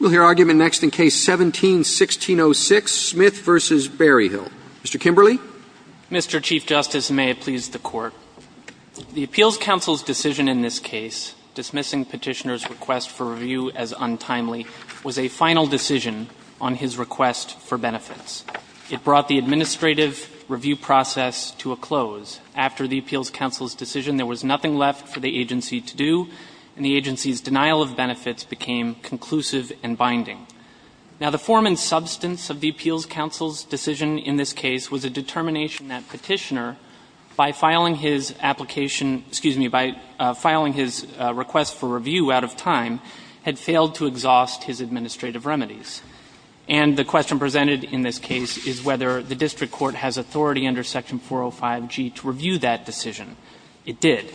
We'll hear argument next in Case 17-1606, Smith v. Berryhill. Mr. Kimberley. Mr. Chief Justice, and may it please the Court, the Appeals Council's decision in this case, dismissing Petitioner's request for review as untimely, was a final decision on his request for benefits. It brought the administrative review process to a close. After the Appeals Council's decision, there was nothing left for the agency to do, and the agency's denial of benefits became conclusive and binding. Now, the form and substance of the Appeals Council's decision in this case was a determination that Petitioner, by filing his application — excuse me, by filing his request for review out of time, had failed to exhaust his administrative remedies. And the question presented in this case is whether the district court has authority under Section 405G to review that decision. It did.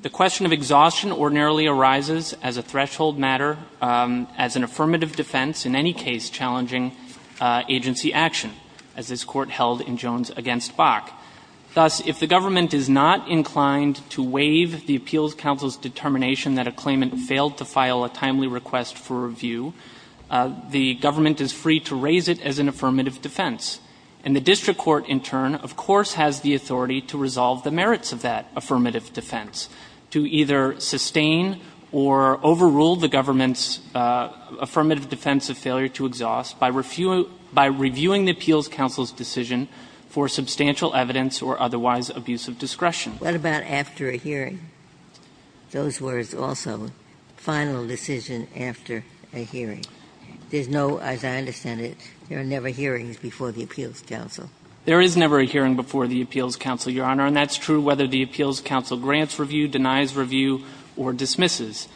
The question of exhaustion ordinarily arises as a threshold matter, as an affirmative defense in any case challenging agency action, as this Court held in Jones v. Bach. Thus, if the government is not inclined to waive the Appeals Council's determination that a claimant failed to file a timely request for review, the government is free to raise it as an affirmative defense. And the district court, in turn, of course, has the authority to resolve the merits of that affirmative defense, to either sustain or overrule the government's affirmative defense of failure to exhaust by review — by reviewing the Appeals Council's decision for substantial evidence or otherwise abusive discretion. Ginsburg. What about after a hearing? Those words also, final decision after a hearing. There's no, as I understand it, there are never hearings before the Appeals Council. There is never a hearing before the Appeals Council, Your Honor, and that's true whether the Appeals Council grants review, denies review, or dismisses.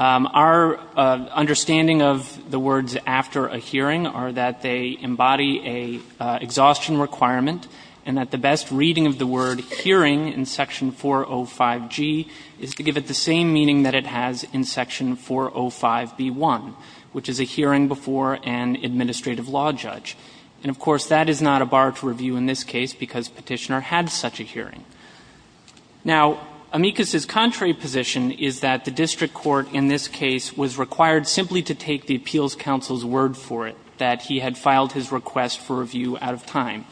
Our understanding of the words after a hearing are that they embody an exhaustion requirement and that the best reading of the word hearing in Section 405G is to give it the same meaning that it has in Section 405B1, which is a hearing before an administrative law judge. And, of course, that is not a bar to review in this case because Petitioner had such a hearing. Now, Amicus's contrary position is that the district court in this case was required simply to take the Appeals Council's word for it, that he had filed his request for review out of time,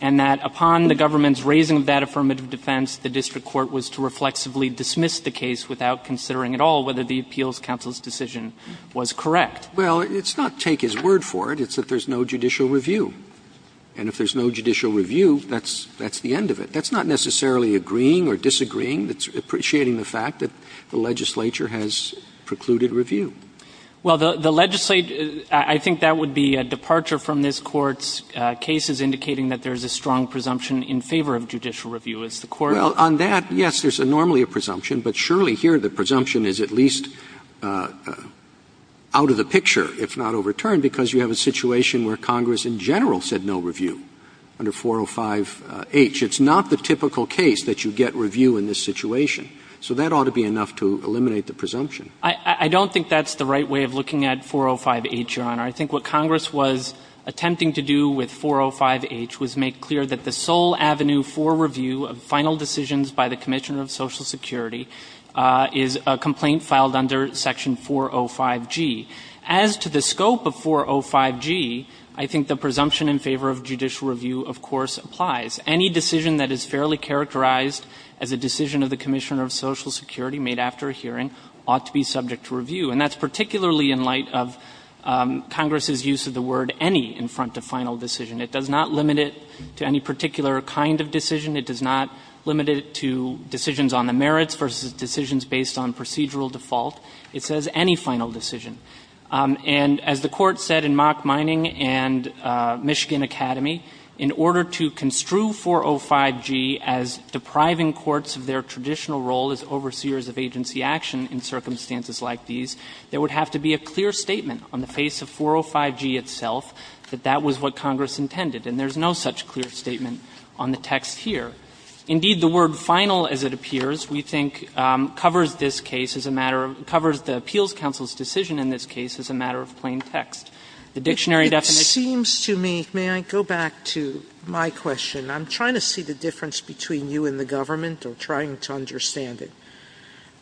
and that upon the government's raising of that affirmative defense, the district court was to reflexively dismiss the case without considering at all whether the Appeals Council's decision was correct. Roberts Well, it's not take his word for it. It's that there's no judicial review. And if there's no judicial review, that's the end of it. That's not necessarily agreeing or disagreeing. It's appreciating the fact that the legislature has precluded review. Well, the legislature, I think that would be a departure from this Court's cases indicating that there is a strong presumption in favor of judicial review. Well, on that, yes, there's normally a presumption, but surely here the presumption is at least out of the picture, if not overturned, because you have a situation where Congress in general said no review under 405H. It's not the typical case that you get review in this situation. So that ought to be enough to eliminate the presumption. I don't think that's the right way of looking at 405H, Your Honor. I think what Congress was attempting to do with 405H was make clear that the sole avenue for review of final decisions by the Commissioner of Social Security is a complaint filed under Section 405G. As to the scope of 405G, I think the presumption in favor of judicial review, of course, applies. Any decision that is fairly characterized as a decision of the Commissioner of Social Security made after a hearing ought to be subject to review. And that's particularly in light of Congress's use of the word any in front of final decision. It does not limit it to any particular kind of decision. It does not limit it to decisions on the merits versus decisions based on procedural default. It says any final decision. And as the Court said in Mock Mining and Michigan Academy, in order to construe 405G as depriving courts of their traditional role as overseers of agency action in circumstances like these, there would have to be a clear statement on the face of 405G itself that that was what Congress intended. And there's no such clear statement on the text here. Indeed, the word final, as it appears, we think covers this case as a matter of the Appeals Council's decision in this case as a matter of plain text. The dictionary definition of this case is a matter of plain text.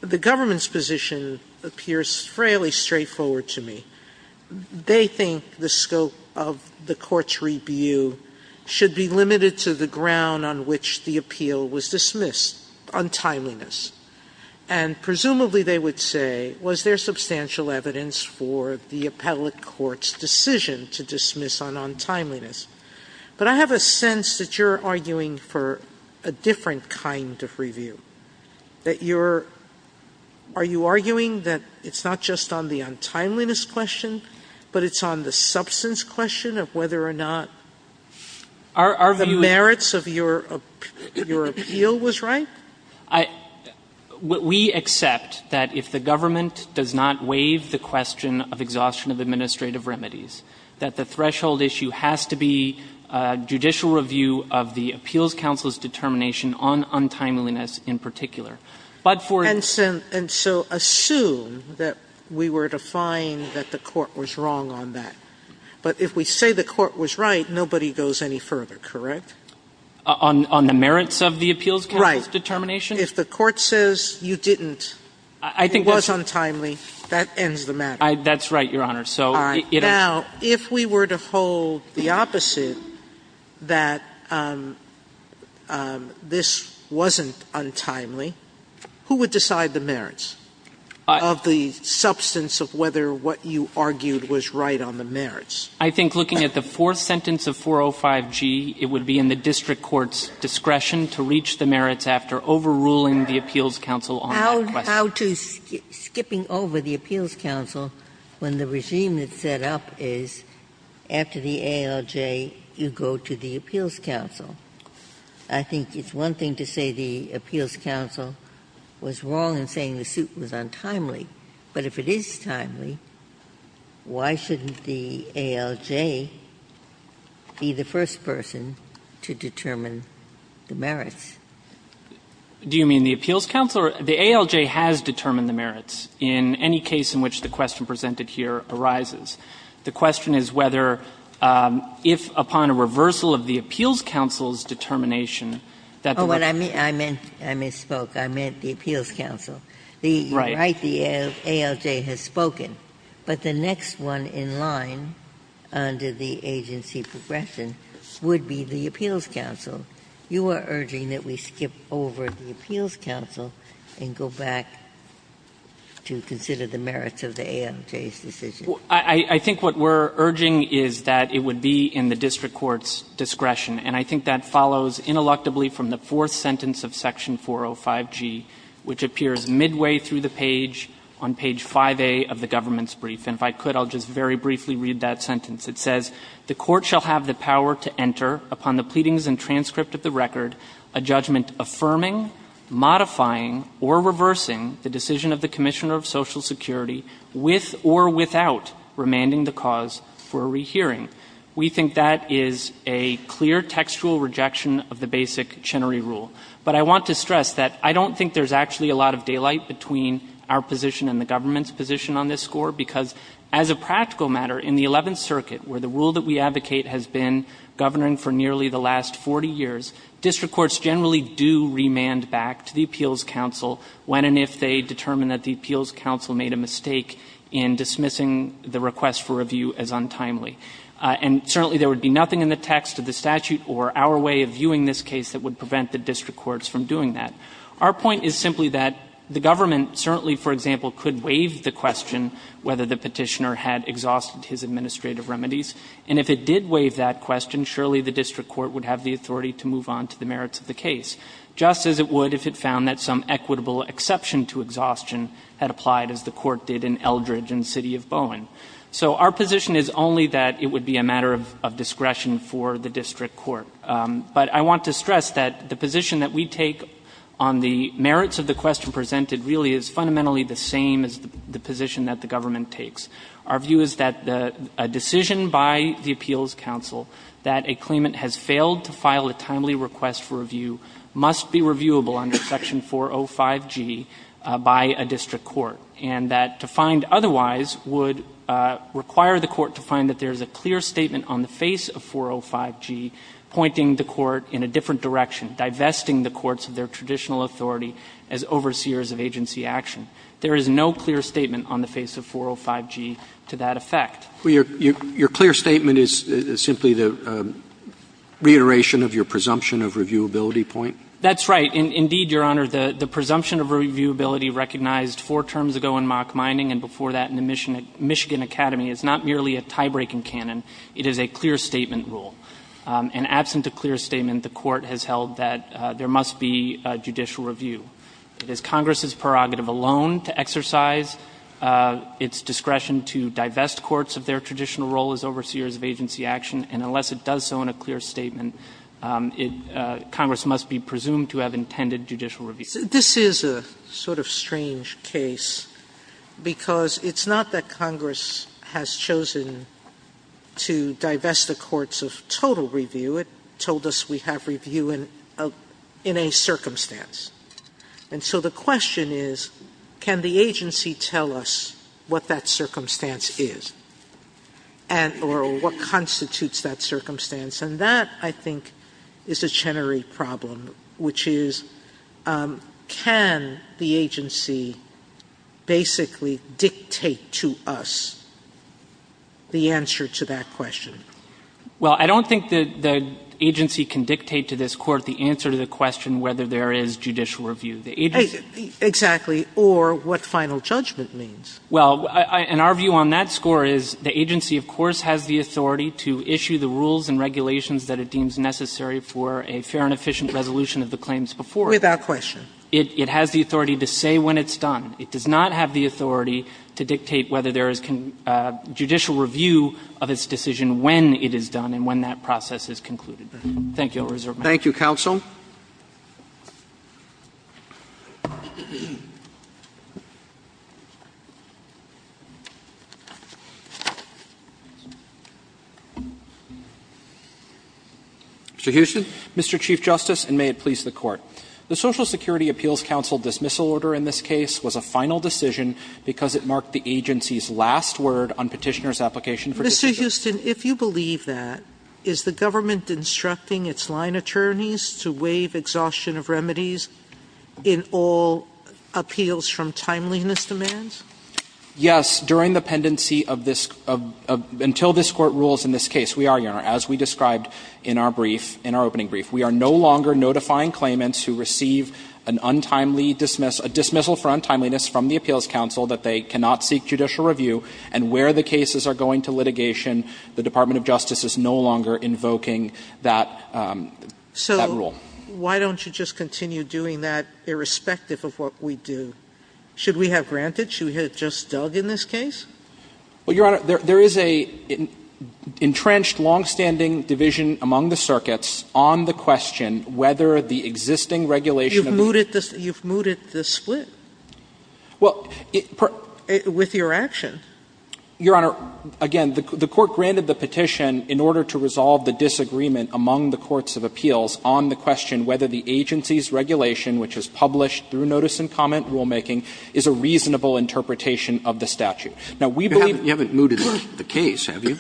The government's position appears fairly straightforward to me. They think the scope of the court's review should be limited to the ground on which the appeal was dismissed, untimeliness. And presumably, they would say, was there substantial evidence for the appellate court's decision to dismiss on untimeliness? But I have a sense that you're arguing for a different kind of review, that you're – are you arguing that it's not just on the untimeliness question, but it's on the substance question of whether or not the merits of your appeal was right? I – we accept that if the government does not waive the question of exhaustion of administrative remedies, that the threshold issue has to be judicial review of the Appeals Council's determination on untimeliness in particular. But for – And so assume that we were to find that the court was wrong on that. But if we say the court was right, nobody goes any further, correct? On the merits of the Appeals Council's determination? Right. If the court says you didn't, it was untimely, that ends the matter. That's right, Your Honor. All right. Now, if we were to hold the opposite, that this wasn't untimely, who would decide the merits of the substance of whether what you argued was right on the merits? I think looking at the fourth sentence of 405G, it would be in the district court's discretion to reach the merits after overruling the Appeals Council on that question. But how to – skipping over the Appeals Council when the regime that's set up is after the ALJ, you go to the Appeals Council. I think it's one thing to say the Appeals Council was wrong in saying the suit was untimely. But if it is timely, why shouldn't the ALJ be the first person to determine the merits? Do you mean the Appeals Council? The ALJ has determined the merits in any case in which the question presented here arises. The question is whether, if upon a reversal of the Appeals Council's determination, that the merits would be determined by the Appeals Council. Oh, what I meant, I misspoke. I meant the Appeals Council. Right. You're right, the ALJ has spoken. But the next one in line under the agency progression would be the Appeals Council. You are urging that we skip over the Appeals Council and go back to consider the merits of the ALJ's decision. I think what we're urging is that it would be in the district court's discretion. And I think that follows ineluctably from the fourth sentence of Section 405G, which appears midway through the page on page 5A of the government's brief. And if I could, I'll just very briefly read that sentence. It says, The Court shall have the power to enter, upon the pleadings and transcript of the record, a judgment affirming, modifying, or reversing the decision of the Commissioner of Social Security, with or without remanding the cause for a rehearing. We think that is a clear textual rejection of the basic Chenery Rule. But I want to stress that I don't think there's actually a lot of daylight between our position and the government's position on this score, because as a practical matter, in the Eleventh Circuit, where the rule that we advocate has been governing for nearly the last 40 years, district courts generally do remand back to the Appeals Council when and if they determine that the Appeals Council made a mistake in dismissing the request for review as untimely. And certainly, there would be nothing in the text of the statute or our way of viewing this case that would prevent the district courts from doing that. Our point is simply that the government certainly, for example, could waive the question whether the Petitioner had exhausted his administrative remedies. And if it did waive that question, surely the district court would have the authority to move on to the merits of the case, just as it would if it found that some equitable exception to exhaustion had applied, as the Court did in Eldridge and City of Bowen. So our position is only that it would be a matter of discretion for the district court. But I want to stress that the position that we take on the merits of the question presented really is fundamentally the same as the position that the government takes. Our view is that a decision by the Appeals Council that a claimant has failed to file a timely request for review must be reviewable under Section 405G by a district court, and that to find otherwise would require the court to find that there is a clear statement on the face of 405G pointing the court in a different direction, divesting the courts of their traditional authority as overseers of agency action. There is no clear statement on the face of 405G to that effect. Roberts. Well, your clear statement is simply the reiteration of your presumption of reviewability point? That's right. Indeed, Your Honor, the presumption of reviewability recognized four terms ago in Mock Minding and before that in the Michigan Academy is not merely a tie-breaking canon. It is a clear statement rule. And absent a clear statement, the Court has held that there must be a judicial review. It is Congress's prerogative alone to exercise its discretion to divest courts of their traditional role as overseers of agency action, and unless it does so in a clear statement, Congress must be presumed to have intended judicial review. This is a sort of strange case because it's not that Congress has chosen to divest the courts of total review. It told us we have review in a circumstance. And so the question is, can the agency tell us what that circumstance is or what constitutes that circumstance? And that, I think, is a generic problem, which is, can the agency basically dictate to us the answer to that question? Well, I don't think that the agency can dictate to this Court the answer to the question whether there is judicial review. The agency can't. Sotomayor Exactly. Or what final judgment means. Well, and our view on that score is the agency, of course, has the authority to issue the rules and regulations that it deems necessary for a fair and efficient resolution of the claims before it. Sotomayor Without question. It has the authority to say when it's done. It does not have the authority to dictate whether there is judicial review of its decision when it is done and when that process is concluded. Thank you. I'll reserve my time. Roberts Thank you, counsel. Mr. Huston. Huston Mr. Chief Justice, and may it please the Court. The Social Security Appeals Council dismissal order in this case was a final decision because it marked the agency's last word on Petitioner's application for decision. Sotomayor Mr. Huston, if you believe that, is the government instructing its line attorneys to waive exhaustion of remedies in all appeals from timeliness demands? Huston Yes, during the pendency of this – until this Court rules in this case. We are, Your Honor, as we described in our brief, in our opening brief. We are no longer notifying claimants who receive an untimely dismissal – a dismissal for untimeliness from the Appeals Council that they cannot seek judicial review and where the cases are going to litigation, the Department of Justice is no longer invoking that – that rule. Sotomayor So why don't you just continue doing that irrespective of what we do? Should we have granted? Should we have just dug in this case? Huston Well, Your Honor, there is an entrenched, longstanding division among the circuits on the question whether the existing regulation of the – Sotomayor You've mooted the split. Huston Well, it – Sotomayor With your action. Huston Your Honor, again, the Court granted the petition in order to resolve the disagreement among the courts of appeals on the question whether the agency's regulation, which was published through notice and comment rulemaking, is a reasonable interpretation of the statute. Now, we believe – Roberts You haven't mooted the case, have you?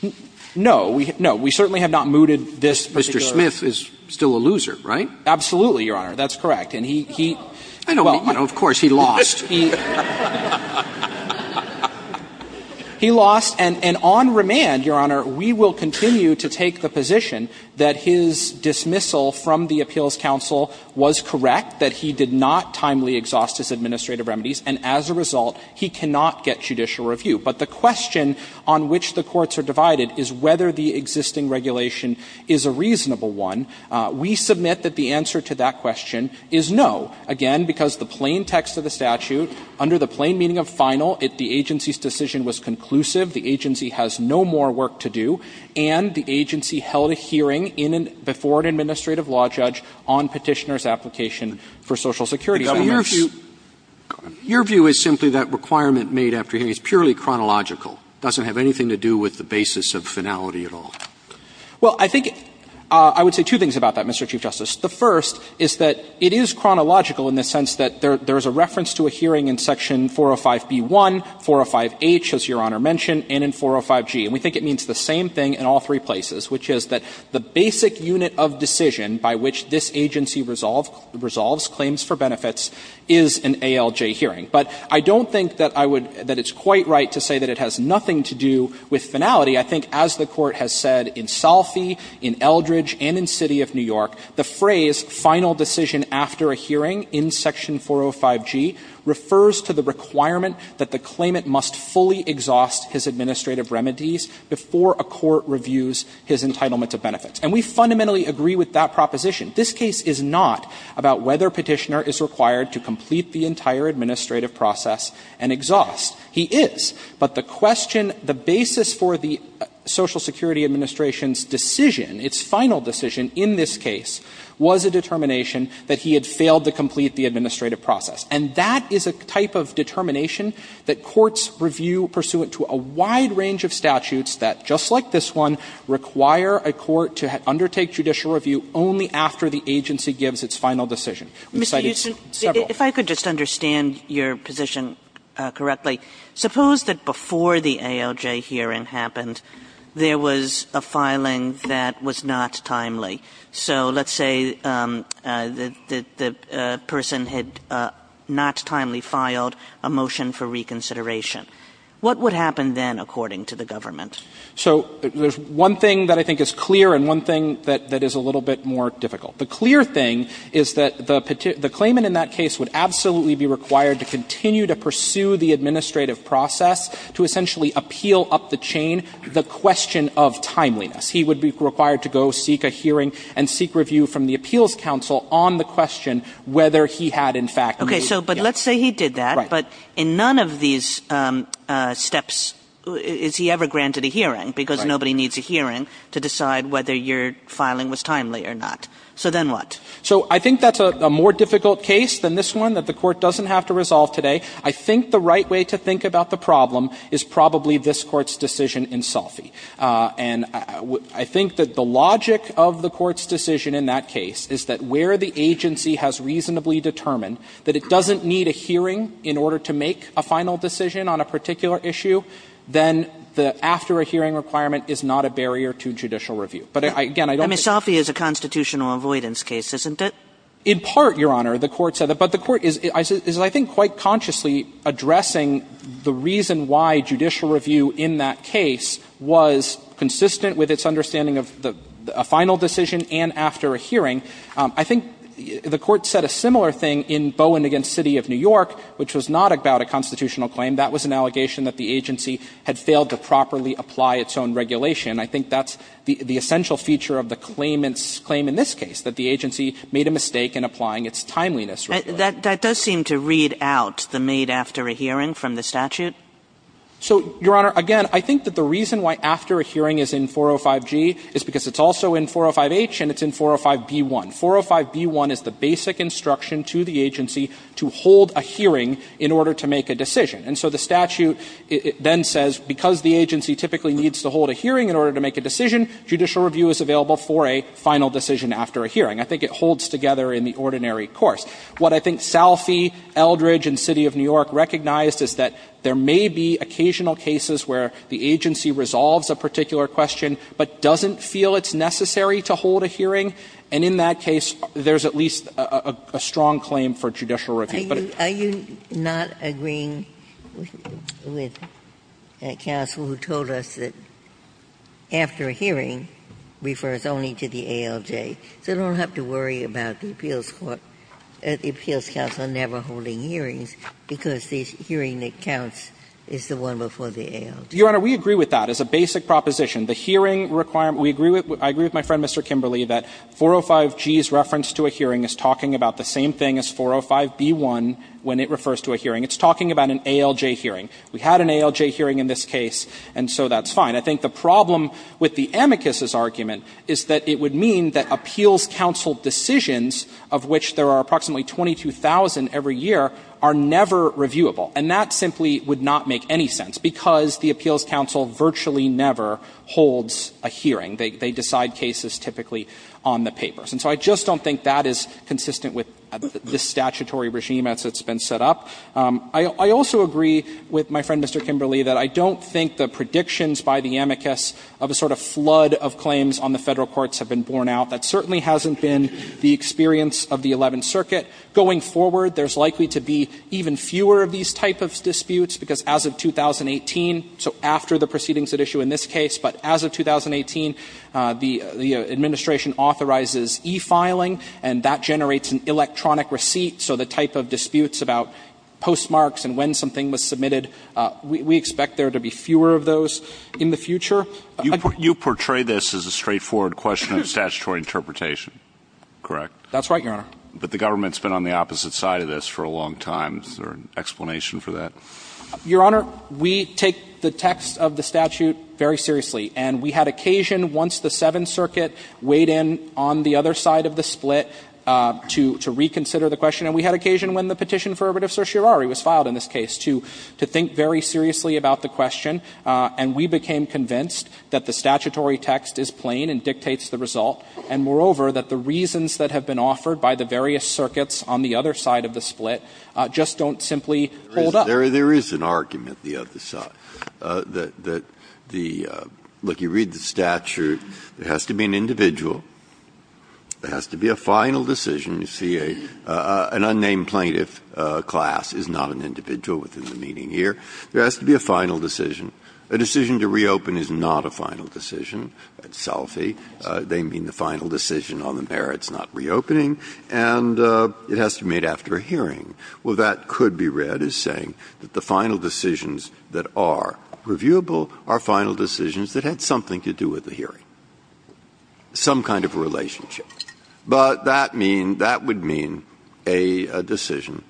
Huston No. No. We certainly have not mooted this particular – Roberts Mr. Smith is still a loser, right? Huston Absolutely, Your Honor. That's correct. And he – he – Sotomayor No. Roberts I don't mean – of course, he lost. He lost, and on remand, Your Honor, we will continue to take the position that his dismissal from the Appeals Council was correct, that he did not timely exhaust his administrative remedies, and as a result, he cannot get judicial review. But the question on which the courts are divided is whether the existing regulation is a reasonable one. We submit that the answer to that question is no, again, because the plain text of the statute, under the plain meaning of final, if the agency's decision was conclusive, the agency has no more work to do, and the agency held a hearing in an – before an administrative law judge on Petitioner's application for Social Security – Roberts Your view is simply that requirement made after hearing is purely chronological. It doesn't have anything to do with the basis of finality at all. Huston Well, I think – I would say two things about that, Mr. Chief Justice. The first is that it is chronological in the sense that there is a reference to a hearing in Section 405b-1, 405h, as Your Honor mentioned, and in 405g. And we think it means the same thing in all three places, which is that the basic unit of decision by which this agency resolves claims for benefits is an ALJ hearing. But I don't think that I would – that it's quite right to say that it has nothing to do with finality. I think as the Court has said in Salfie, in Eldridge, and in City of New York, the phrase, final decision after a hearing in Section 405g, refers to the requirement that the claimant must fully exhaust his administrative remedies before a court reviews his entitlement to benefits. And we fundamentally agree with that proposition. This case is not about whether Petitioner is required to complete the entire administrative process and exhaust. He is. But the question, the basis for the Social Security Administration's decision, its final decision in this case, was a determination that he had failed to complete the administrative process. And that is a type of determination that courts review pursuant to a wide range of statutes that, just like this one, require a court to undertake judicial review only after the agency gives its final decision. We've cited several. If I could just understand your position correctly. Suppose that before the ALJ hearing happened, there was a filing that was not timely. So let's say the person had not timely filed a motion for reconsideration. What would happen then, according to the government? So there's one thing that I think is clear and one thing that is a little bit more difficult. The clear thing is that the claimant in that case would absolutely be required to continue to pursue the administrative process to essentially appeal up the chain the question of timeliness. He would be required to go seek a hearing and seek review from the appeals council on the question whether he had, in fact, made it. Okay. So but let's say he did that. Right. But in none of these steps is he ever granted a hearing because nobody needs a hearing to decide whether your filing was timely or not. So then what? So I think that's a more difficult case than this one that the Court doesn't have to resolve today. I think the right way to think about the problem is probably this Court's decision in Soffi. And I think that the logic of the Court's decision in that case is that where the agency has reasonably determined that it doesn't need a hearing in order to make a final decision on a particular issue, then the after-a-hearing requirement But again, I don't think that's the case. I mean, Soffi is a constitutional avoidance case, isn't it? In part, Your Honor, the Court said that. But the Court is, I think, quite consciously addressing the reason why judicial review in that case was consistent with its understanding of a final decision and after a hearing. I think the Court said a similar thing in Bowen v. City of New York, which was not about a constitutional claim. That was an allegation that the agency had failed to properly apply its own regulation. I think that's the essential feature of the claimant's claim in this case, that the agency made a mistake in applying its timeliness regulation. That does seem to read out the made-after-a-hearing from the statute. So, Your Honor, again, I think that the reason why after-a-hearing is in 405g is because it's also in 405h and it's in 405b1. 405b1 is the basic instruction to the agency to hold a hearing in order to make a decision. And so the statute then says, because the agency typically needs to hold a hearing in order to make a decision, judicial review is available for a final decision after a hearing. I think it holds together in the ordinary course. What I think Salfie, Eldridge, and City of New York recognized is that there may be occasional cases where the agency resolves a particular question but doesn't feel it's necessary to hold a hearing. And in that case, there's at least a strong claim for judicial review. Ginsburg. Are you not agreeing with counsel who told us that after-a-hearing refers only to the ALJ, so I don't have to worry about the appeals court, the appeals counsel never holding hearings, because the hearing that counts is the one before the ALJ? Your Honor, we agree with that as a basic proposition. The hearing requirement we agree with, I agree with my friend, Mr. Kimberley, that 405G's reference to a hearing is talking about the same thing as 405B1 when it refers to a hearing. It's talking about an ALJ hearing. We had an ALJ hearing in this case, and so that's fine. I think the problem with the amicus' argument is that it would mean that appeals counsel decisions, of which there are approximately 22,000 every year, are never reviewable. And that simply would not make any sense, because the appeals counsel virtually never holds a hearing. They decide cases typically on the papers. And so I just don't think that is consistent with the statutory regime as it's been set up. I also agree with my friend, Mr. Kimberley, that I don't think the predictions by the amicus of a sort of flood of claims on the Federal courts have been borne out. That certainly hasn't been the experience of the Eleventh Circuit. Going forward, there's likely to be even fewer of these type of disputes, because as of 2018, so after the proceedings at issue in this case, but as of 2018, the administration authorizes e-filing, and that generates an electronic receipt. So the type of disputes about postmarks and when something was submitted, we expect there to be fewer of those in the future. You portray this as a straightforward question of statutory interpretation, correct? That's right, Your Honor. But the government's been on the opposite side of this for a long time. Is there an explanation for that? Your Honor, we take the text of the statute very seriously, and we had occasion once the Seventh Circuit weighed in on the other side of the split to reconsider the question, and we had occasion when the Petition for Arbitrative Certiorari was filed in this case to think very seriously about the question, and we became convinced that the statutory text is plain and dictates the result, and moreover, that the reasons that have been offered by the various circuits on the other side of the split just don't simply hold up. Breyer. There is an argument the other side, that the – look, you read the statute. There has to be an individual. There has to be a final decision. You see, an unnamed plaintiff class is not an individual within the meeting here. There has to be a final decision. A decision to reopen is not a final decision. That's Salfi. They mean the final decision on the merits not reopening. And it has to be made after a hearing. Well, that could be read as saying that the final decisions that are reviewable are final decisions that had something to do with the hearing, some kind of relationship. But that means – that would mean a decision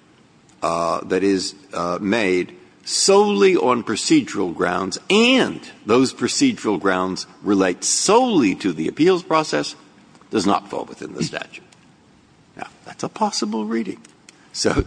that is made solely on procedural grounds and those procedural grounds relate solely to the appeals process does not fall within the statute. Now, that's a possible reading. So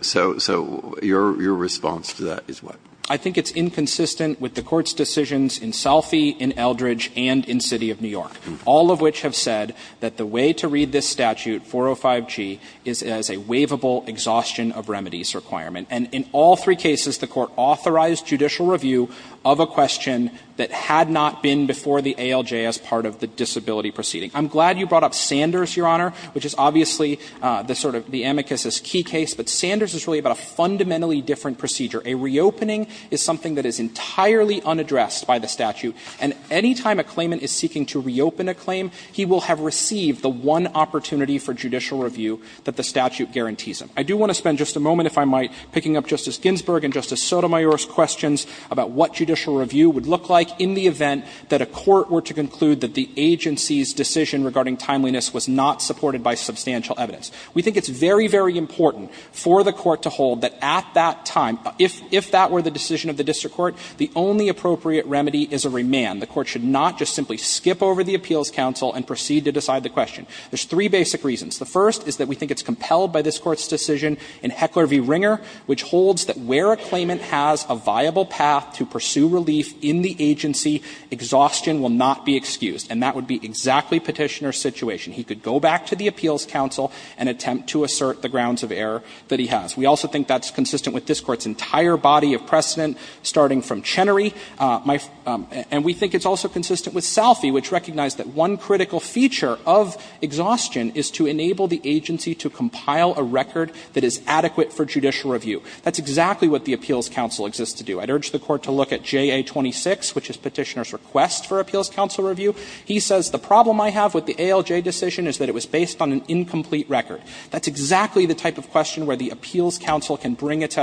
your response to that is what? I think it's inconsistent with the Court's decisions in Salfi, in Eldridge, and in City of New York, all of which have said that the way to read this statute, 405G, is as a waivable exhaustion of remedies requirement. And in all three cases, the Court authorized judicial review of a question that had not been before the ALJ as part of the disability proceeding. I'm glad you brought up Sanders, Your Honor, which is obviously the sort of the amicus' key case. But Sanders is really about a fundamentally different procedure. A reopening is something that is entirely unaddressed by the statute. And any time a claimant is seeking to reopen a claim, he will have received the one opportunity for judicial review that the statute guarantees him. I do want to spend just a moment, if I might, picking up Justice Ginsburg and Justice Sotomayor's questions about what judicial review would look like in the event that a court were to conclude that the agency's decision regarding timeliness was not supported by substantial evidence. We think it's very, very important for the Court to hold that at that time, if that were the decision of the district court, the only appropriate remedy is a remand. The Court should not just simply skip over the appeals counsel and proceed to decide the question. There's three basic reasons. The first is that we think it's compelled by this Court's decision in Heckler v. Ringer, which holds that where a claimant has a viable path to pursue relief in the agency, exhaustion will not be excused. And that would be exactly Petitioner's situation. He could go back to the appeals counsel and attempt to assert the grounds of error that he has. We also think that's consistent with this Court's entire body of precedent, starting from Chenery. And we think it's also consistent with Salphy, which recognized that one critical feature of exhaustion is to enable the agency to compile a record that is adequate for judicial review. That's exactly what the appeals counsel exists to do. I'd urge the Court to look at JA-26, which is Petitioner's request for appeals counsel review. He says the problem I have with the ALJ decision is that it was based on an incomplete record. That's exactly the type of question where the appeals counsel can bring its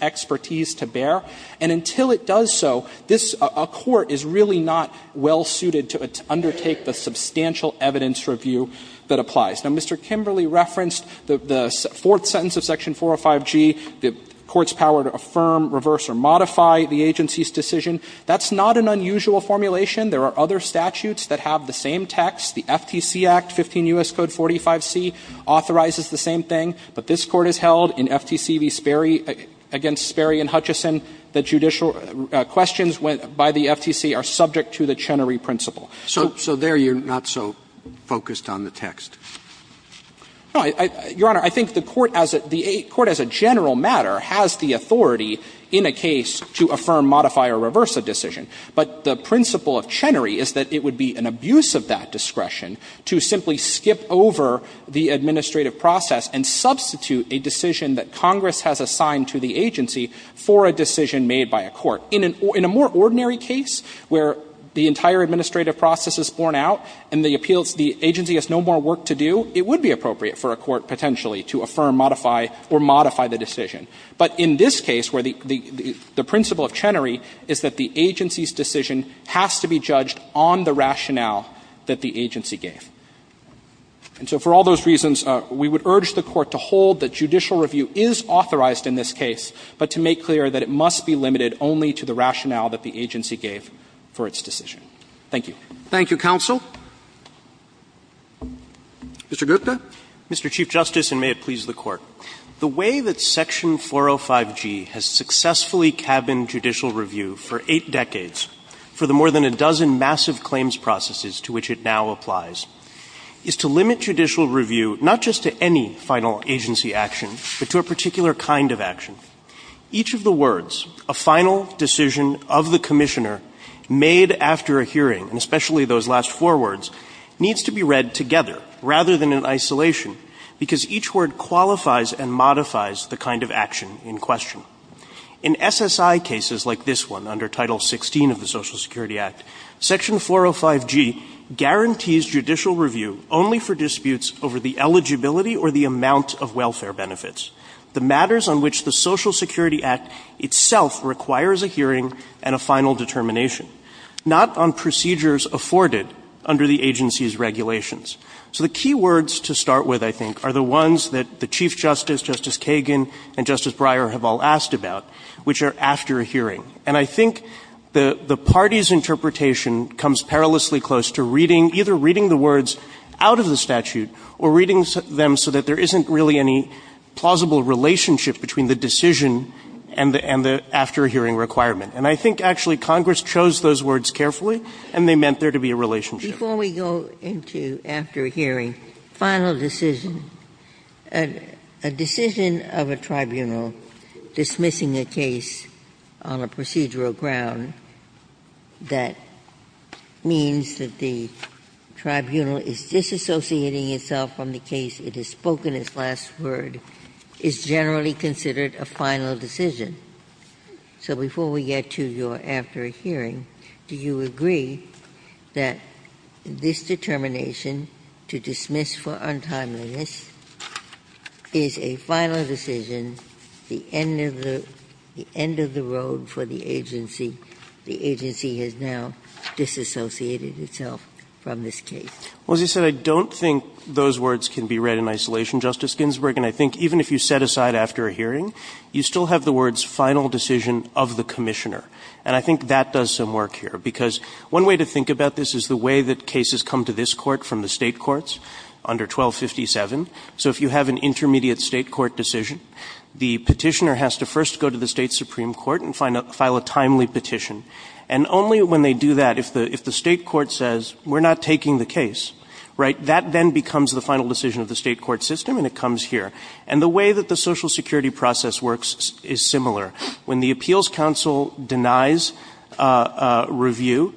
expertise to bear. And until it does so, this Court is really not well-suited to undertake the substantial evidence review that applies. Now, Mr. Kimberley referenced the fourth sentence of section 405G, the Court's power to affirm, reverse, or modify the agency's decision. That's not an unusual formulation. There are other statutes that have the same text. The FTC Act, 15 U.S. Code 45C, authorizes the same thing. But this Court has held in FTC v. Sperry, against Sperry and Hutchison, that judicial questions by the FTC are subject to the Chenery principle. So there you're not so focused on the text. No, Your Honor, I think the Court as a general matter has the authority in a case to affirm, modify, or reverse a decision. But the principle of Chenery is that it would be an abuse of that discretion to simply skip over the administrative process and substitute a decision that Congress has assigned to the agency for a decision made by a court. Now, in a more ordinary case where the entire administrative process is borne out and the appeals the agency has no more work to do, it would be appropriate for a court potentially to affirm, modify, or modify the decision. But in this case where the principle of Chenery is that the agency's decision has to be judged on the rationale that the agency gave. And so for all those reasons, we would urge the Court to hold that judicial review is authorized in this case, but to make clear that it must be limited only to the rationale that the agency gave for its decision. Thank you. Roberts. Thank you, counsel. Mr. Gupta. Mr. Chief Justice, and may it please the Court. The way that section 405G has successfully cabined judicial review for eight decades for the more than a dozen massive claims processes to which it now applies is to limit judicial review not just to any final agency action, but to a particular kind of action. Each of the words, a final decision of the commissioner made after a hearing, and especially those last four words, needs to be read together rather than in isolation because each word qualifies and modifies the kind of action in question. In SSI cases like this one under Title 16 of the Social Security Act, section 405G guarantees judicial review only for disputes over the eligibility or the amount of welfare benefits, the matters on which the Social Security Act itself requires a hearing and a final determination, not on procedures afforded under the agency's regulations. So the key words to start with, I think, are the ones that the Chief Justice, Justice Kagan, and Justice Breyer have all asked about, which are after a hearing. And I think the party's interpretation comes perilously close to reading, either reading the words out of the statute or reading them so that there isn't really any plausible relationship between the decision and the after-hearing requirement. And I think, actually, Congress chose those words carefully, and they meant there to be a relationship. Ginsburg But before we go into after a hearing, final decision. A decision of a tribunal dismissing a case on a procedural ground that means that the tribunal is disassociating itself from the case, it has spoken its last word, is generally considered a final decision. So before we get to your after hearing, do you agree that this determination to dismiss for untimeliness is a final decision, the end of the road for the agency? The agency has now disassociated itself from this case. Gupta Well, as you said, I don't think those words can be read in isolation, Justice Ginsburg. And I think even if you set aside after a hearing, you still have the words final decision of the commissioner. And I think that does some work here. Because one way to think about this is the way that cases come to this Court from the State courts under 1257. So if you have an intermediate State court decision, the petitioner has to first go to the State supreme court and file a timely petition. And only when they do that, if the State court says we're not taking the case, right, that then becomes the final decision of the State court system and it comes here. And the way that the Social Security process works is similar. When the appeals counsel denies review,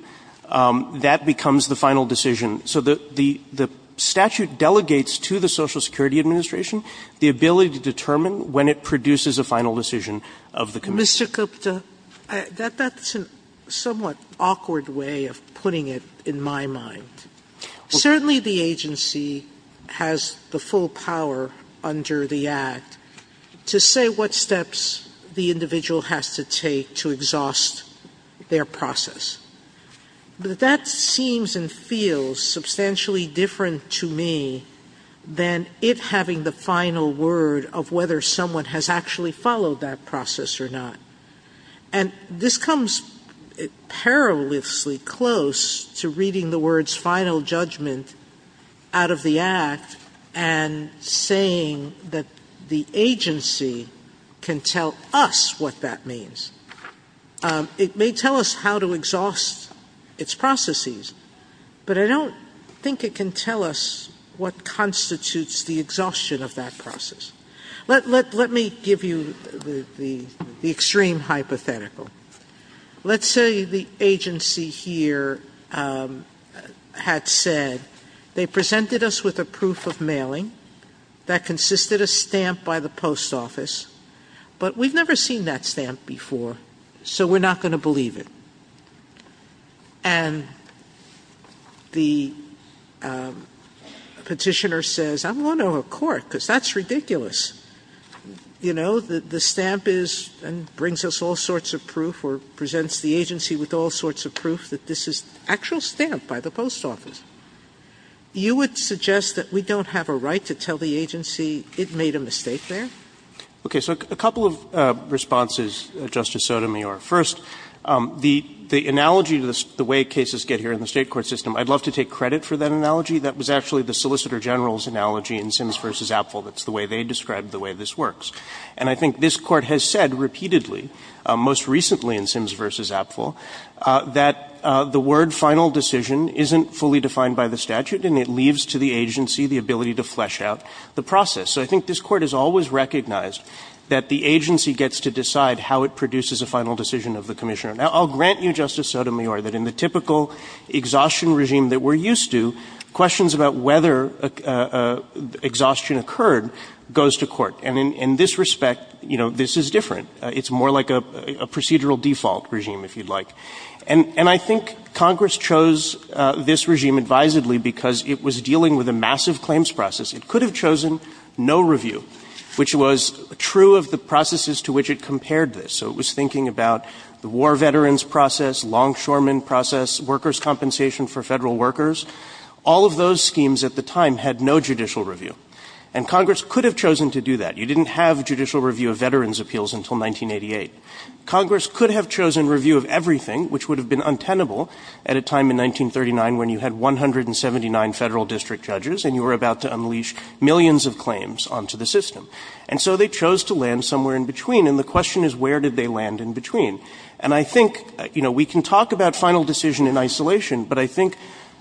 that becomes the final decision. So the statute delegates to the Social Security Administration the ability to determine when it produces a final decision of the commissioner. Sotomayor Mr. Gupta, that's a somewhat awkward way of putting it in my mind. Certainly the agency has the full power under the act to say what steps the individual has to take to exhaust their process. But that seems and feels substantially different to me than it having the final word of whether someone has actually followed that process or not. And this comes perilously close to reading the words final judgment out of the act and saying that the agency can tell us what that means. It may tell us how to exhaust its processes, but I don't think it can tell us what constitutes the exhaustion of that process. Let me give you the extreme hypothetical. Let's say the agency here had said, they presented us with a proof of mailing that consisted a stamp by the post office, but we've never seen that stamp before, so we're not going to believe it. And the petitioner says, I'm going to a court because that's ridiculous. You know, the stamp is and brings us all sorts of proof or presents the agency with all sorts of proof that this is actual stamp by the post office. You would suggest that we don't have a right to tell the agency it made a mistake there? Okay, so a couple of responses, Justice Sotomayor. First, the analogy to the way cases get here in the State court system, I'd love to take credit for that analogy. That was actually the Solicitor General's analogy in Sims v. Apfel. That's the way they described the way this works. And I think this Court has said repeatedly, most recently in Sims v. Apfel, that the word final decision isn't fully defined by the statute and it leaves to the agency the ability to flesh out the process. So I think this Court has always recognized that the agency gets to decide how it produces a final decision of the commissioner. Now, I'll grant you, Justice Sotomayor, that in the typical exhaustion regime that we're used to, questions about whether exhaustion occurred goes to court. And in this respect, you know, this is different. It's more like a procedural default regime, if you'd like. And I think Congress chose this regime advisedly because it was dealing with a massive claims process. It could have chosen no review, which was true of the processes to which it compared this. So it was thinking about the war veterans process, longshoremen process, workers' compensation for Federal workers. All of those schemes at the time had no judicial review. And Congress could have chosen to do that. You didn't have judicial review of veterans' appeals until 1988. Congress could have chosen review of everything, which would have been untenable at a time in 1939 when you had 179 Federal district judges and you were about to unleash millions of claims onto the system. And so they chose to land somewhere in between. And the question is, where did they land in between? And I think, you know, we can talk about final decision in isolation, but I think,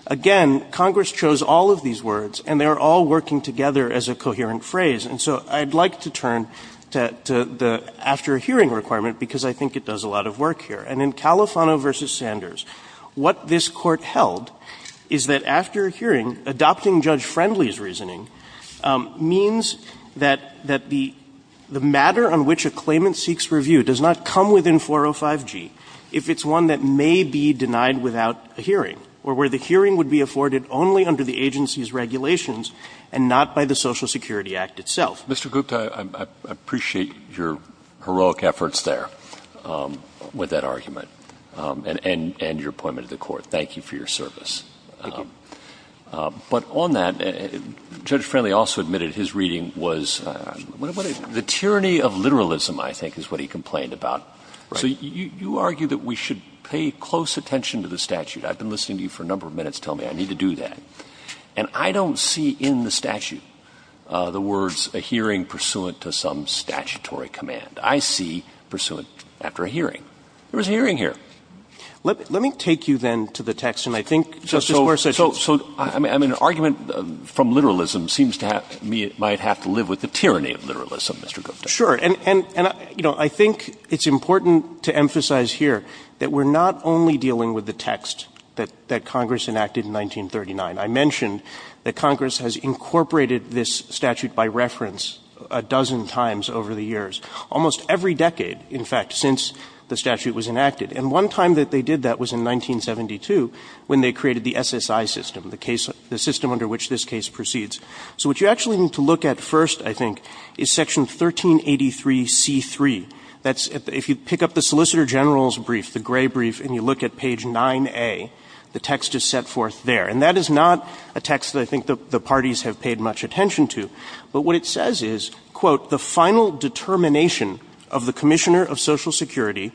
again, Congress chose all of these words, and they are all working together as a coherent phrase. And so I'd like to turn to the after-hearing requirement because I think it does a lot of work here. And in Califano v. Sanders, what this Court held is that after hearing, adopting Judge Friendly's reasoning means that the matter on which a claimant seeks review does not come within 405G if it's one that may be denied without a hearing or where the hearing would be afforded only under the agency's regulations and not by the Social Security Act itself. Mr. Gupta, I appreciate your heroic efforts there with that argument and your appointment to the Court. Thank you for your service. But on that, Judge Friendly also admitted his reading was the tyranny of literalism, I think, is what he complained about. So you argue that we should pay close attention to the statute. I've been listening to you for a number of minutes telling me I need to do that. And I don't see in the statute the words, a hearing pursuant to some statutory command. I see pursuant after a hearing. There was a hearing here. Let me take you then to the text, and I think, Justice Gorsuch. So, I mean, an argument from literalism seems to me it might have to live with the tyranny of literalism, Mr. Gupta. Sure. And, you know, I think it's important to emphasize here that we're not only dealing with the text that Congress enacted in 1939. I mentioned that Congress has incorporated this statute by reference a dozen times over the years, almost every decade, in fact, since the statute was enacted. And one time that they did that was in 1972, when they created the SSI system, the system under which this case proceeds. So what you actually need to look at first, I think, is Section 1383c3. That's if you pick up the Solicitor General's brief, the gray brief, and you look at page 9a, the text is set forth there. And that is not a text that I think the parties have paid much attention to. But what it says is, quote, the final determination of the Commissioner of Social Security,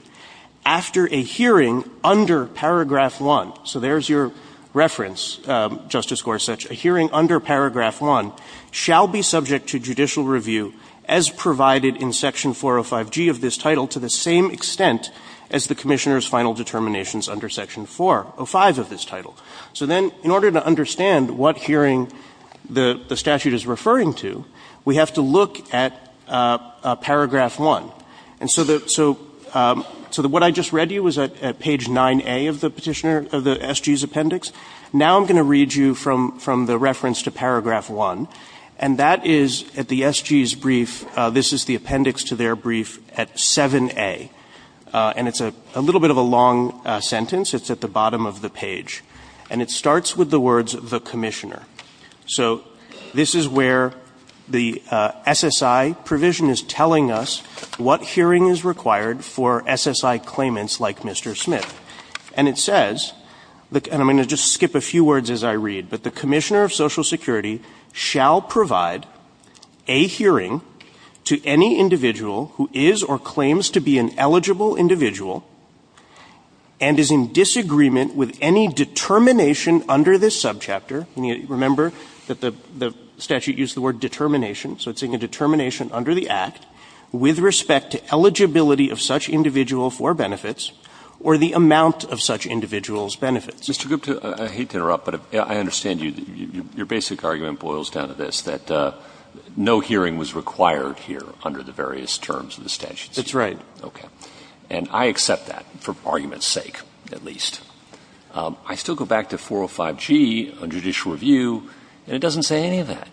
after a hearing under paragraph 1, so there's your reference, Justice Gorsuch, a hearing under paragraph 1, shall be subject to judicial review as provided in Section 405G of this title to the same extent as the Commissioner's final determinations under Section 405 of this title. So then, in order to understand what hearing the statute is referring to, we have to look at paragraph 1. And so the – so the – what I just read to you was at page 9a of the Petitioner – of the SG's appendix. Now I'm going to read you from the reference to paragraph 1. And that is at the SG's brief, this is the appendix to their brief at 7a. And it's a little bit of a long sentence. It's at the bottom of the page. And it starts with the words, the Commissioner. So this is where the SSI provision is telling us what hearing is required for SSI claimants like Mr. Smith. And it says, and I'm going to just skip a few words as I read, but the Commissioner of Social Security shall provide a hearing to any individual who is or claims to be an eligible individual and is in disagreement with any determination under this subchapter. Remember that the statute used the word determination. So it's saying a determination under the Act with respect to eligibility of such individual for benefits or the amount of such individual's benefits. Mr. Gupta, I hate to interrupt, but I understand you. Your basic argument boils down to this, that no hearing was required here under the various terms of the statute. That's right. Okay. And I accept that, for argument's sake, at least. I still go back to 405G on judicial review, and it doesn't say any of that.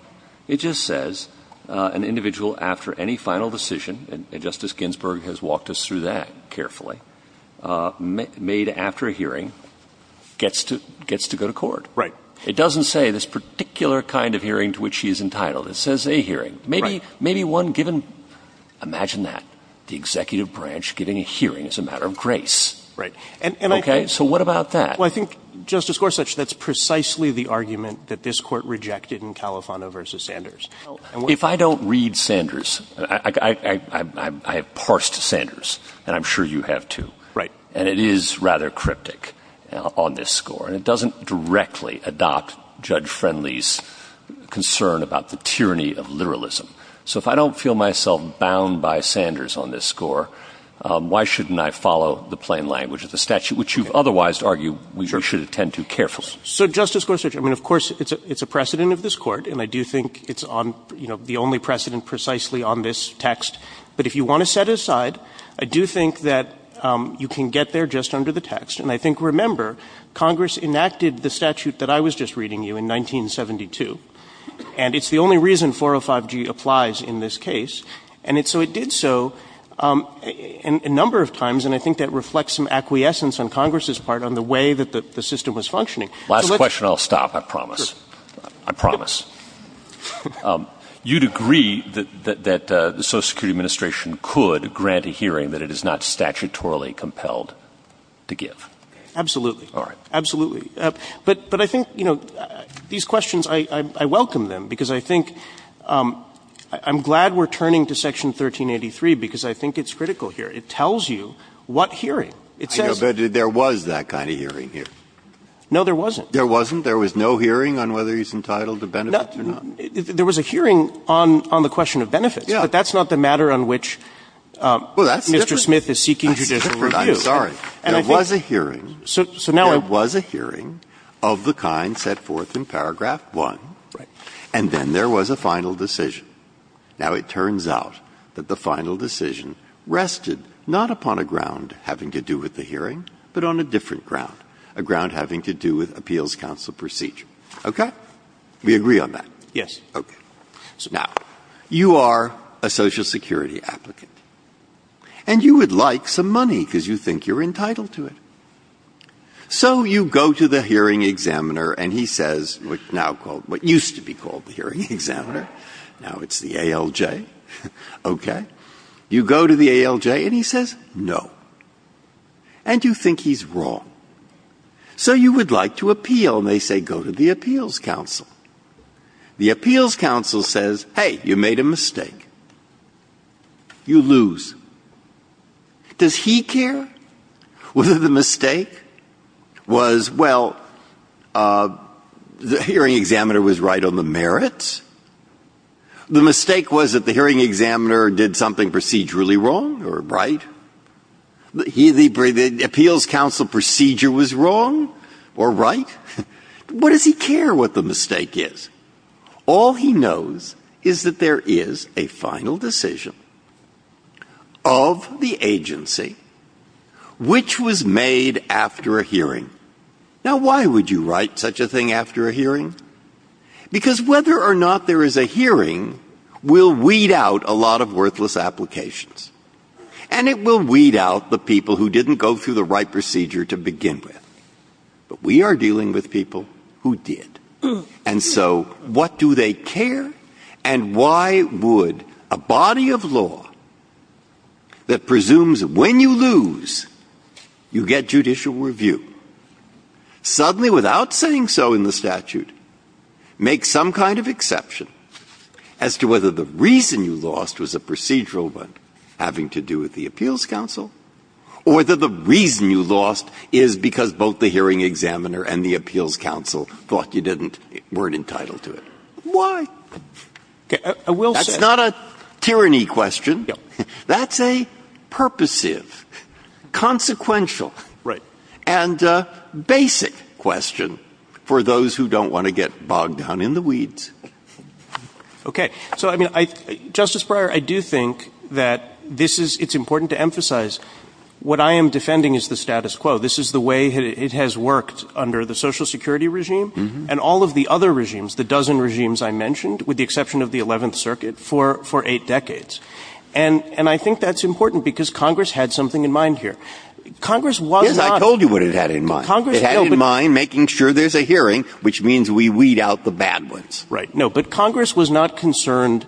It just says an individual after any final decision, and Justice Ginsburg has walked us through that carefully, made after a hearing, gets to go to court. Right. It doesn't say this particular kind of hearing to which he is entitled. It says a hearing. Right. Maybe one given, imagine that, the executive branch giving a hearing as a matter of grace. Right. Okay. So what about that? Well, I think, Justice Gorsuch, that's precisely the argument that this Court rejected in Califano v. Sanders. If I don't read Sanders, I have parsed Sanders, and I'm sure you have too. Right. And it is rather cryptic on this score, and it doesn't directly adopt Judge Friendly's concern about the tyranny of literalism. So Justice Gorsuch, I mean, of course, it's a precedent of this Court, and I do think it's on, you know, the only precedent precisely on this text, but if you want to set aside, I do think that you can get there just under the text, and I think, remember, Congress enacted the statute that I was just reading you in 1972, and it's the only reason 405G applies in this case, and so it did so a number of times, and I think that reflects some acquiescence on Congress's part on the way that the system was functioning. Last question, I'll stop, I promise. I promise. You'd agree that the Social Security Administration could grant a hearing that it is not statutorily compelled to give? Absolutely. All right. Absolutely. But I think, you know, these questions, I welcome them, because I think I'm glad we're turning to Section 1383, because I think it's critical here. It tells you what hearing. It says that there was that kind of hearing here. No, there wasn't. There wasn't? There was no hearing on whether he's entitled to benefits or not? There was a hearing on the question of benefits, but that's not the matter on which Mr. Smith is seeking judicial review. I'm sorry. There was a hearing. There was a hearing of the kind set forth in paragraph 1, and then there was a final decision. Now, it turns out that the final decision rested not upon a ground having to do with the hearing, but on a different ground, a ground having to do with appeals counsel procedure. Okay? We agree on that? Yes. Okay. Now, you are a Social Security applicant, and you would like some money, because you think you're entitled to it. So you go to the hearing examiner, and he says what's now called, what used to be called the hearing examiner. Now it's the ALJ. Okay. You go to the ALJ, and he says no, and you think he's wrong. So you would like to appeal, and they say go to the appeals counsel. The appeals counsel says, hey, you made a mistake. You lose. Does he care whether the mistake was, well, the hearing examiner was right on the The mistake was that the hearing examiner did something procedurally wrong or right? The appeals counsel procedure was wrong or right? What does he care what the mistake is? All he knows is that there is a final decision of the agency which was made after a hearing. Now, why would you write such a thing after a hearing? Because whether or not there is a hearing will weed out a lot of worthless applications, and it will weed out the people who didn't go through the right procedure to begin with. But we are dealing with people who did. And so what do they care? And why would a body of law that presumes when you lose, you get judicial review, suddenly without saying so in the statute, make some kind of exception as to whether the reason you lost was a procedural one having to do with the appeals counsel or whether the reason you lost is because both the hearing examiner and the appeals counsel thought you didn't, weren't entitled to it? Why? That's not a tyranny question. That's a purposive, consequential. Right. And basic question for those who don't want to get bogged down in the weeds. Okay. So, I mean, Justice Breyer, I do think that this is, it's important to emphasize what I am defending is the status quo. This is the way it has worked under the Social Security regime and all of the other regimes, the dozen regimes I mentioned, with the exception of the 11th Circuit, for eight decades. And I think that's important because Congress had something in mind here. Congress was not. Yes, I told you what it had in mind. It had in mind making sure there's a hearing, which means we weed out the bad ones. Right. No, but Congress was not concerned.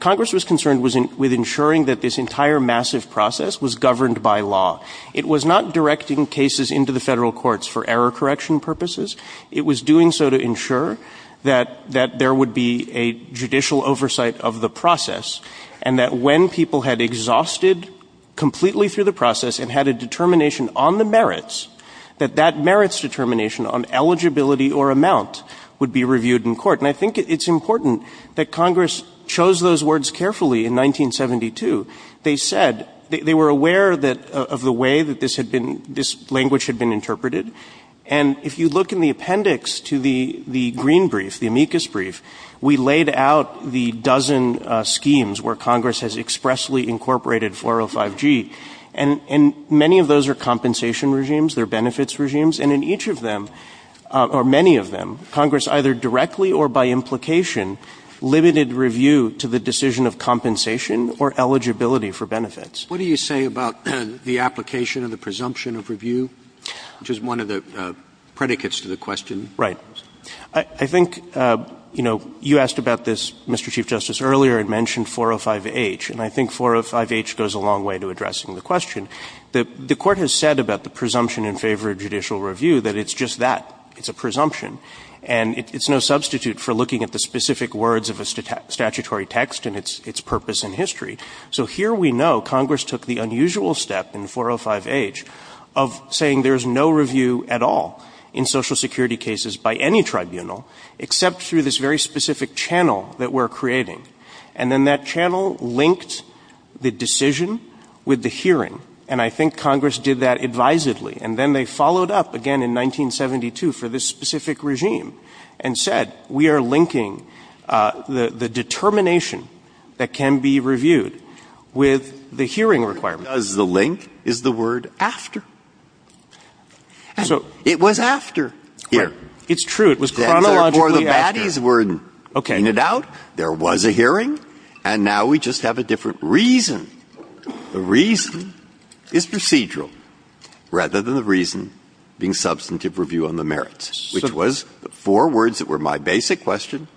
Congress was concerned with ensuring that this entire massive process was governed by law. It was not directing cases into the Federal courts for error correction purposes. It was doing so to ensure that there would be a judicial oversight of the process and that when people had exhausted completely through the process and had a determination on the merits, that that merits determination on eligibility or amount would be reviewed in court. And I think it's important that Congress chose those words carefully in 1972. They said, they were aware that, of the way that this had been, this language had been interpreted. And if you look in the appendix to the Green Brief, the amicus brief, we laid out the dozen schemes where Congress has expressly incorporated 405G. And many of those are compensation regimes. They're benefits regimes. And in each of them, or many of them, Congress either directly or by implication limited review to the decision of compensation or eligibility for benefits. What do you say about the application of the presumption of review, which is one of the predicates to the question? Right. I think, you know, you asked about this, Mr. Chief Justice, earlier and mentioned 405H. And I think 405H goes a long way to addressing the question. The Court has said about the presumption in favor of judicial review that it's just that. It's a presumption. And it's no substitute for looking at the specific words of a statutory text and its purpose in history. So here we know Congress took the unusual step in 405H of saying there is no review at all in Social Security cases by any tribunal except through this very specific channel that we're creating. And then that channel linked the decision with the hearing. And I think Congress did that advisedly. And then they followed up again in 1972 for this specific regime and said, we are linking the determination that can be reviewed with the hearing requirement. The link is the word after. It was after here. It's true. It was chronologically after. Before the baddies were in and out, there was a hearing, and now we just have a different reason. The reason is procedural rather than the reason being substantive review on the merits, which was the four words that were my basic question,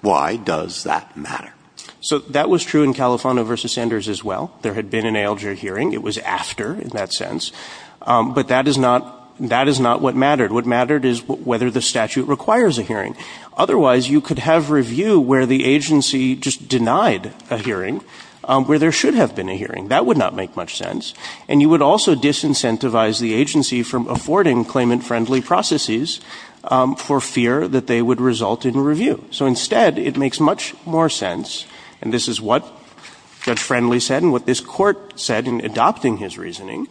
why does that matter? So that was true in Califano v. Sanders as well. There had been an ALJ hearing. It was after in that sense. But that is not what mattered. What mattered is whether the statute requires a hearing. Otherwise, you could have review where the agency just denied a hearing where there should have been a hearing. That would not make much sense. And you would also disincentivize the agency from affording claimant-friendly processes for fear that they would result in review. So instead, it makes much more sense, and this is what Judge Friendly said and what this Court said in adopting his reasoning,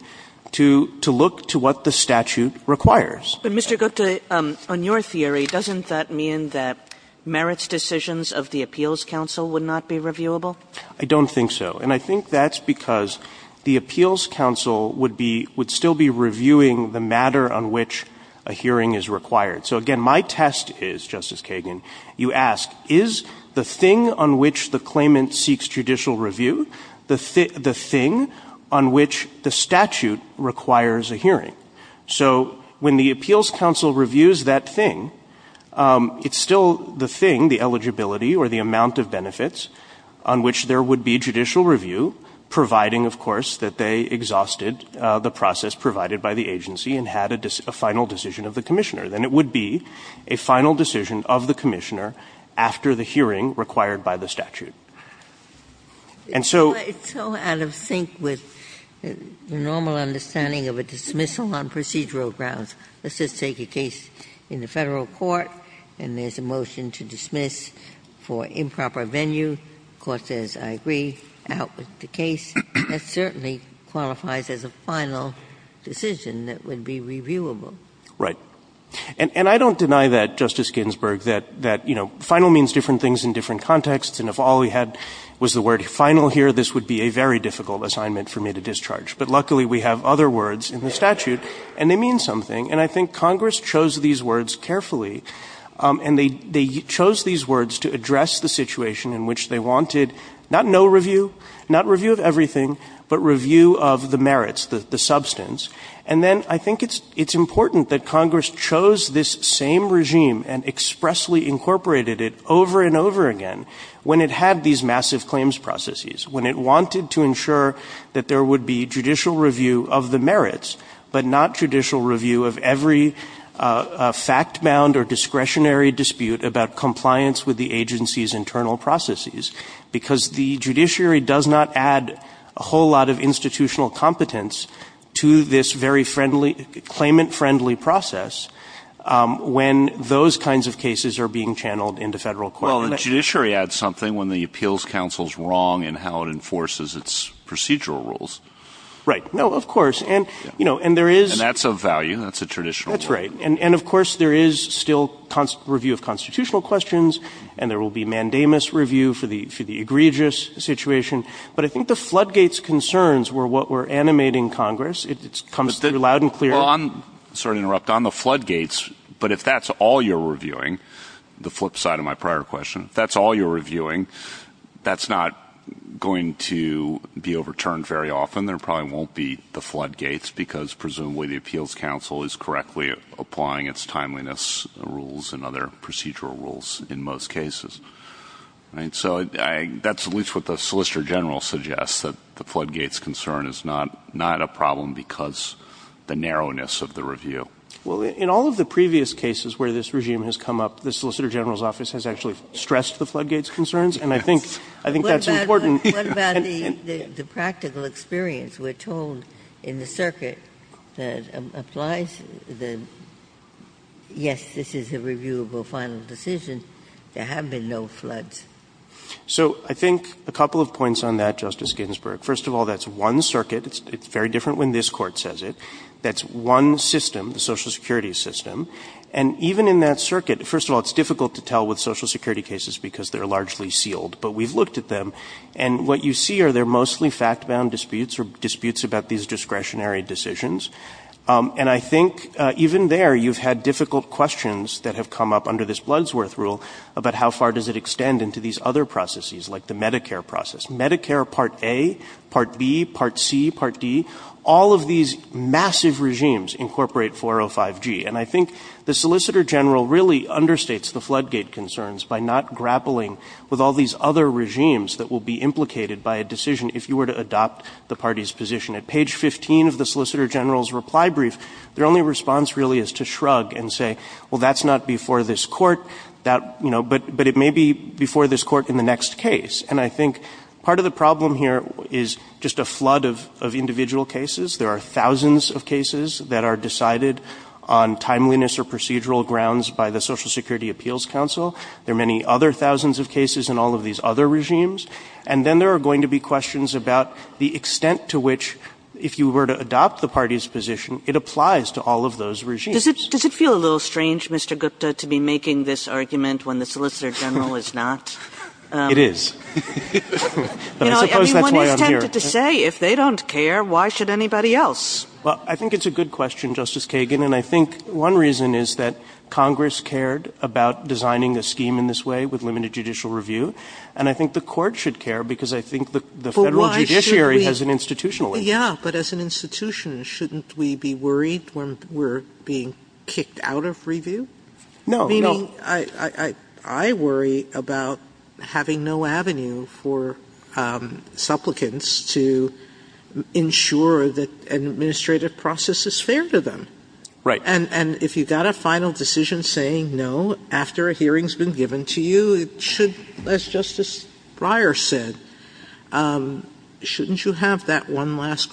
to look to what the statute requires. Kagan. But, Mr. Gupta, on your theory, doesn't that mean that merits decisions of the Appeals Counsel would not be reviewable? I don't think so. And I think that's because the Appeals Counsel would be – would still be reviewing the matter on which a hearing is required. So, again, my test is, Justice Kagan, you ask, is the thing on which the claimant seeks judicial review the thing on which the statute requires a hearing? So when the Appeals Counsel reviews that thing, it's still the thing, the eligibility or the amount of benefits on which there would be judicial review, providing, of course, that they exhausted the process provided by the agency and had a final decision of the commissioner. Then it would be a final decision of the commissioner after the hearing required by the statute. And so – It's so out of sync with the normal understanding of a dismissal on procedural grounds. Let's just take a case in the Federal court and there's a motion to dismiss for improper venue. The court says, I agree, out with the case. That certainly qualifies as a final decision that would be reviewable. Right. And I don't deny that, Justice Ginsburg, that, you know, final means different things in different contexts. And if all we had was the word final here, this would be a very difficult assignment for me to discharge. But luckily, we have other words in the statute and they mean something. And I think Congress chose these words carefully and they chose these words to address the situation in which they wanted not no review, not review of everything, but review of the merits, the substance. And then I think it's important that Congress chose this same regime and expressly incorporated it over and over again when it had these massive claims processes, when it wanted to ensure that there would be judicial review of the merits, but not judicial review of every fact-bound or discretionary dispute about compliance with the agency's internal processes. Because the judiciary does not add a whole lot of institutional competence to this very friendly, claimant-friendly process when those kinds of cases are being channeled into Federal court. Well, the judiciary adds something when the appeals counsel is wrong in how it enforces its procedural rules. Right. No, of course. And, you know, and there is — And that's of value. That's a traditional — That's right. And, of course, there is still review of constitutional questions and there will be mandamus review for the egregious situation. But I think the floodgates concerns were what were animating Congress. It comes through loud and clear. Well, I'm sorry to interrupt. On the floodgates, but if that's all you're reviewing, the flip side of my prior question, if that's all you're reviewing, that's not going to be overturned very often. There probably won't be the floodgates because presumably the appeals counsel is correctly applying its timeliness rules and other procedural rules in most cases. Right. So that's at least what the Solicitor General suggests, that the floodgates concern is not a problem because the narrowness of the review. Well, in all of the previous cases where this regime has come up, the Solicitor General's office has actually stressed the floodgates concerns, and I think that's important. What about the practical experience? We're told in the circuit that applies the — yes, this is a reviewable final decision. There have been no floods. So I think a couple of points on that, Justice Ginsburg. First of all, that's one circuit. It's very different when this Court says it. That's one system, the Social Security system. And even in that circuit — first of all, it's difficult to tell with Social Security cases because they're largely sealed, but we've looked at them. And what you see are they're mostly fact-bound disputes or disputes about these discretionary decisions. And I think even there, you've had difficult questions that have come up under this Bloodsworth rule about how far does it extend into these other processes, like the Medicare process. Medicare Part A, Part B, Part C, Part D, all of these massive regimes incorporate 405G. And I think the Solicitor General really understates the floodgate concerns by not grappling with all these other regimes that will be implicated by a decision if you were to adopt the party's position. At page 15 of the Solicitor General's reply brief, their only response really is to shrug and say, well, that's not before this Court, you know, but it may be before this Court in the next case. And I think part of the problem here is just a flood of individual cases. There are thousands of cases that are decided on timeliness or procedural grounds by the Social Security Appeals Council. There are many other thousands of cases in all of these other regimes. And then there are going to be questions about the extent to which, if you were to adopt the party's position, it applies to all of those regimes. Kagan. Does it feel a little strange, Mr. Gupta, to be making this argument when the Solicitor General is not? It is. I suppose that's why I'm here. I mean, one is tempted to say, if they don't care, why should anybody else? Well, I think it's a good question, Justice Kagan. And I think one reason is that Congress cared about designing a scheme in this way with limited judicial review. And I think the Court should care because I think the Federal judiciary has an institutional reason. But why should we? Yeah, but as an institution, shouldn't we be worried when we're being kicked out of review? No. Meaning, I worry about having no avenue for supplicants to ensure that an administrative process is fair to them. Right. And if you've got a final decision saying, no, after a hearing's been given to you, it should, as Justice Breyer said, shouldn't you have that one last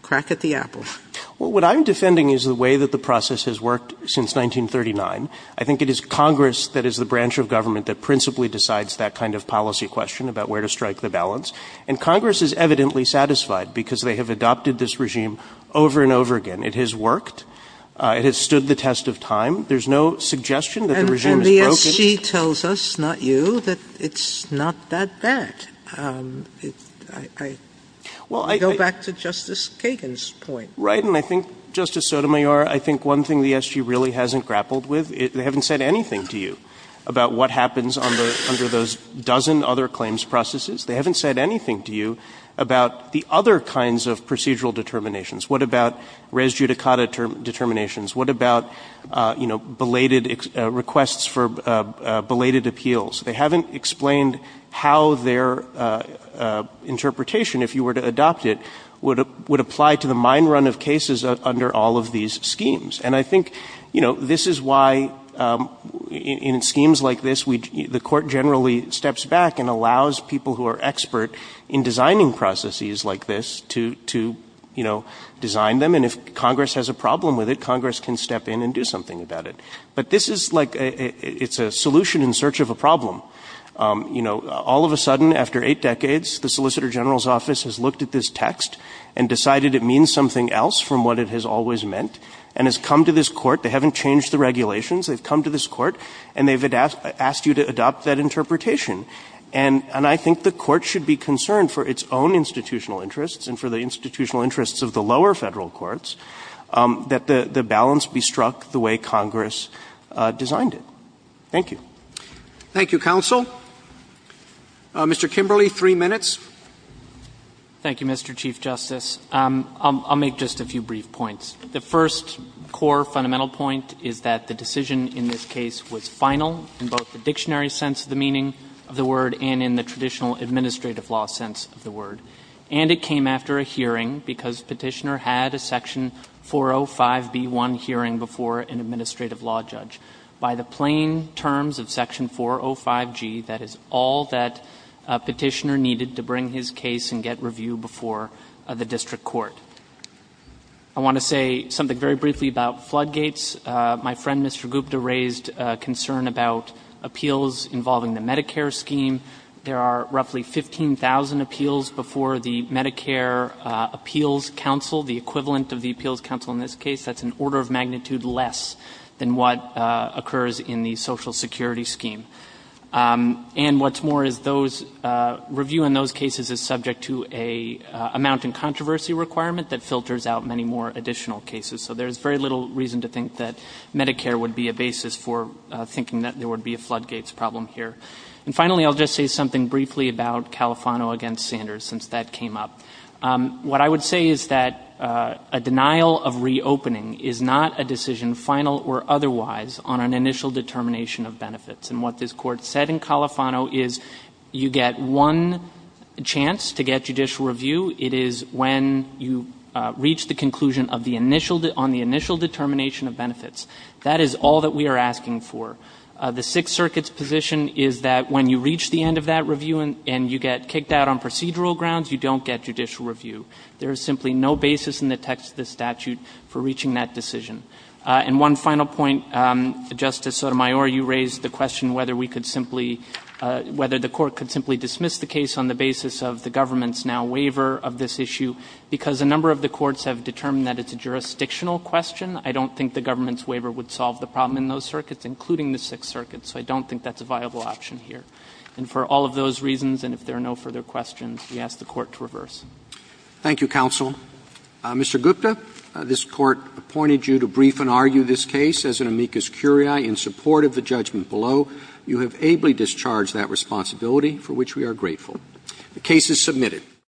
crack at the apple? Well, what I'm defending is the way that the process has worked since 1939. I think it is Congress that is the branch of government that principally decides that kind of policy question about where to strike the balance. And Congress is evidently satisfied because they have adopted this regime over and over again. It has worked. It has stood the test of time. There's no suggestion that the regime is broken. And the SG tells us, not you, that it's not that bad. I go back to Justice Kagan's point. Right. And I think, Justice Sotomayor, I think one thing the SG really hasn't grappled with, they haven't said anything to you about what happens under those dozen other claims processes. They haven't said anything to you about the other kinds of procedural determinations. What about res judicata determinations? What about, you know, belated requests for belated appeals? They haven't explained how their interpretation, if you were to adopt it, would apply to the mine run of cases under all of these schemes. And I think, you know, this is why in schemes like this, the court generally steps back and allows people who are expert in designing processes like this to, you know, design them. And if Congress has a problem with it, Congress can step in and do something about it. But this is like, it's a solution in search of a problem. You know, all of a sudden, after eight decades, the Solicitor General's office has looked at this text and decided it means something else from what it has always meant, and has come to this Court. They haven't changed the regulations. They've come to this Court, and they've asked you to adopt that interpretation. And I think the Court should be concerned for its own institutional interests and for the institutional interests of the lower Federal courts that the balance be struck the way Congress designed it. Thank you. Roberts. Thank you, counsel. Mr. Kimberly, three minutes. Thank you, Mr. Chief Justice. I'll make just a few brief points. The first core fundamental point is that the decision in this case was final in both the dictionary sense of the meaning of the word and in the traditional administrative law sense of the word. And it came after a hearing, because Petitioner had a Section 405b1 hearing before an administrative law judge. By the plain terms of Section 405g, that is all that Petitioner needed to bring to his case and get review before the district court. I want to say something very briefly about floodgates. My friend, Mr. Gupta, raised concern about appeals involving the Medicare scheme. There are roughly 15,000 appeals before the Medicare Appeals Council, the equivalent of the Appeals Council in this case. That's an order of magnitude less than what occurs in the Social Security scheme. And what's more is those review in those cases is subject to an amount in controversy requirement that filters out many more additional cases. So there's very little reason to think that Medicare would be a basis for thinking that there would be a floodgates problem here. And finally, I'll just say something briefly about Califano against Sanders, since that came up. What I would say is that a denial of reopening is not a decision, final or otherwise, on an initial determination of benefits. And what this Court said in Califano is you get one chance to get judicial review. It is when you reach the conclusion on the initial determination of benefits. That is all that we are asking for. The Sixth Circuit's position is that when you reach the end of that review and you get kicked out on procedural grounds, you don't get judicial review. There is simply no basis in the text of the statute for reaching that decision. And one final point, Justice Sotomayor, you raised the question whether we could simply – whether the Court could simply dismiss the case on the basis of the government's now waiver of this issue. Because a number of the courts have determined that it's a jurisdictional question, I don't think the government's waiver would solve the problem in those circuits, including the Sixth Circuit. So I don't think that's a viable option here. And for all of those reasons, and if there are no further questions, we ask the Court to reverse. Roberts. Thank you, counsel. Mr. Gupta, this Court appointed you to brief and argue this case as an amicus curiae in support of the judgment below. You have ably discharged that responsibility, for which we are grateful. The case is submitted.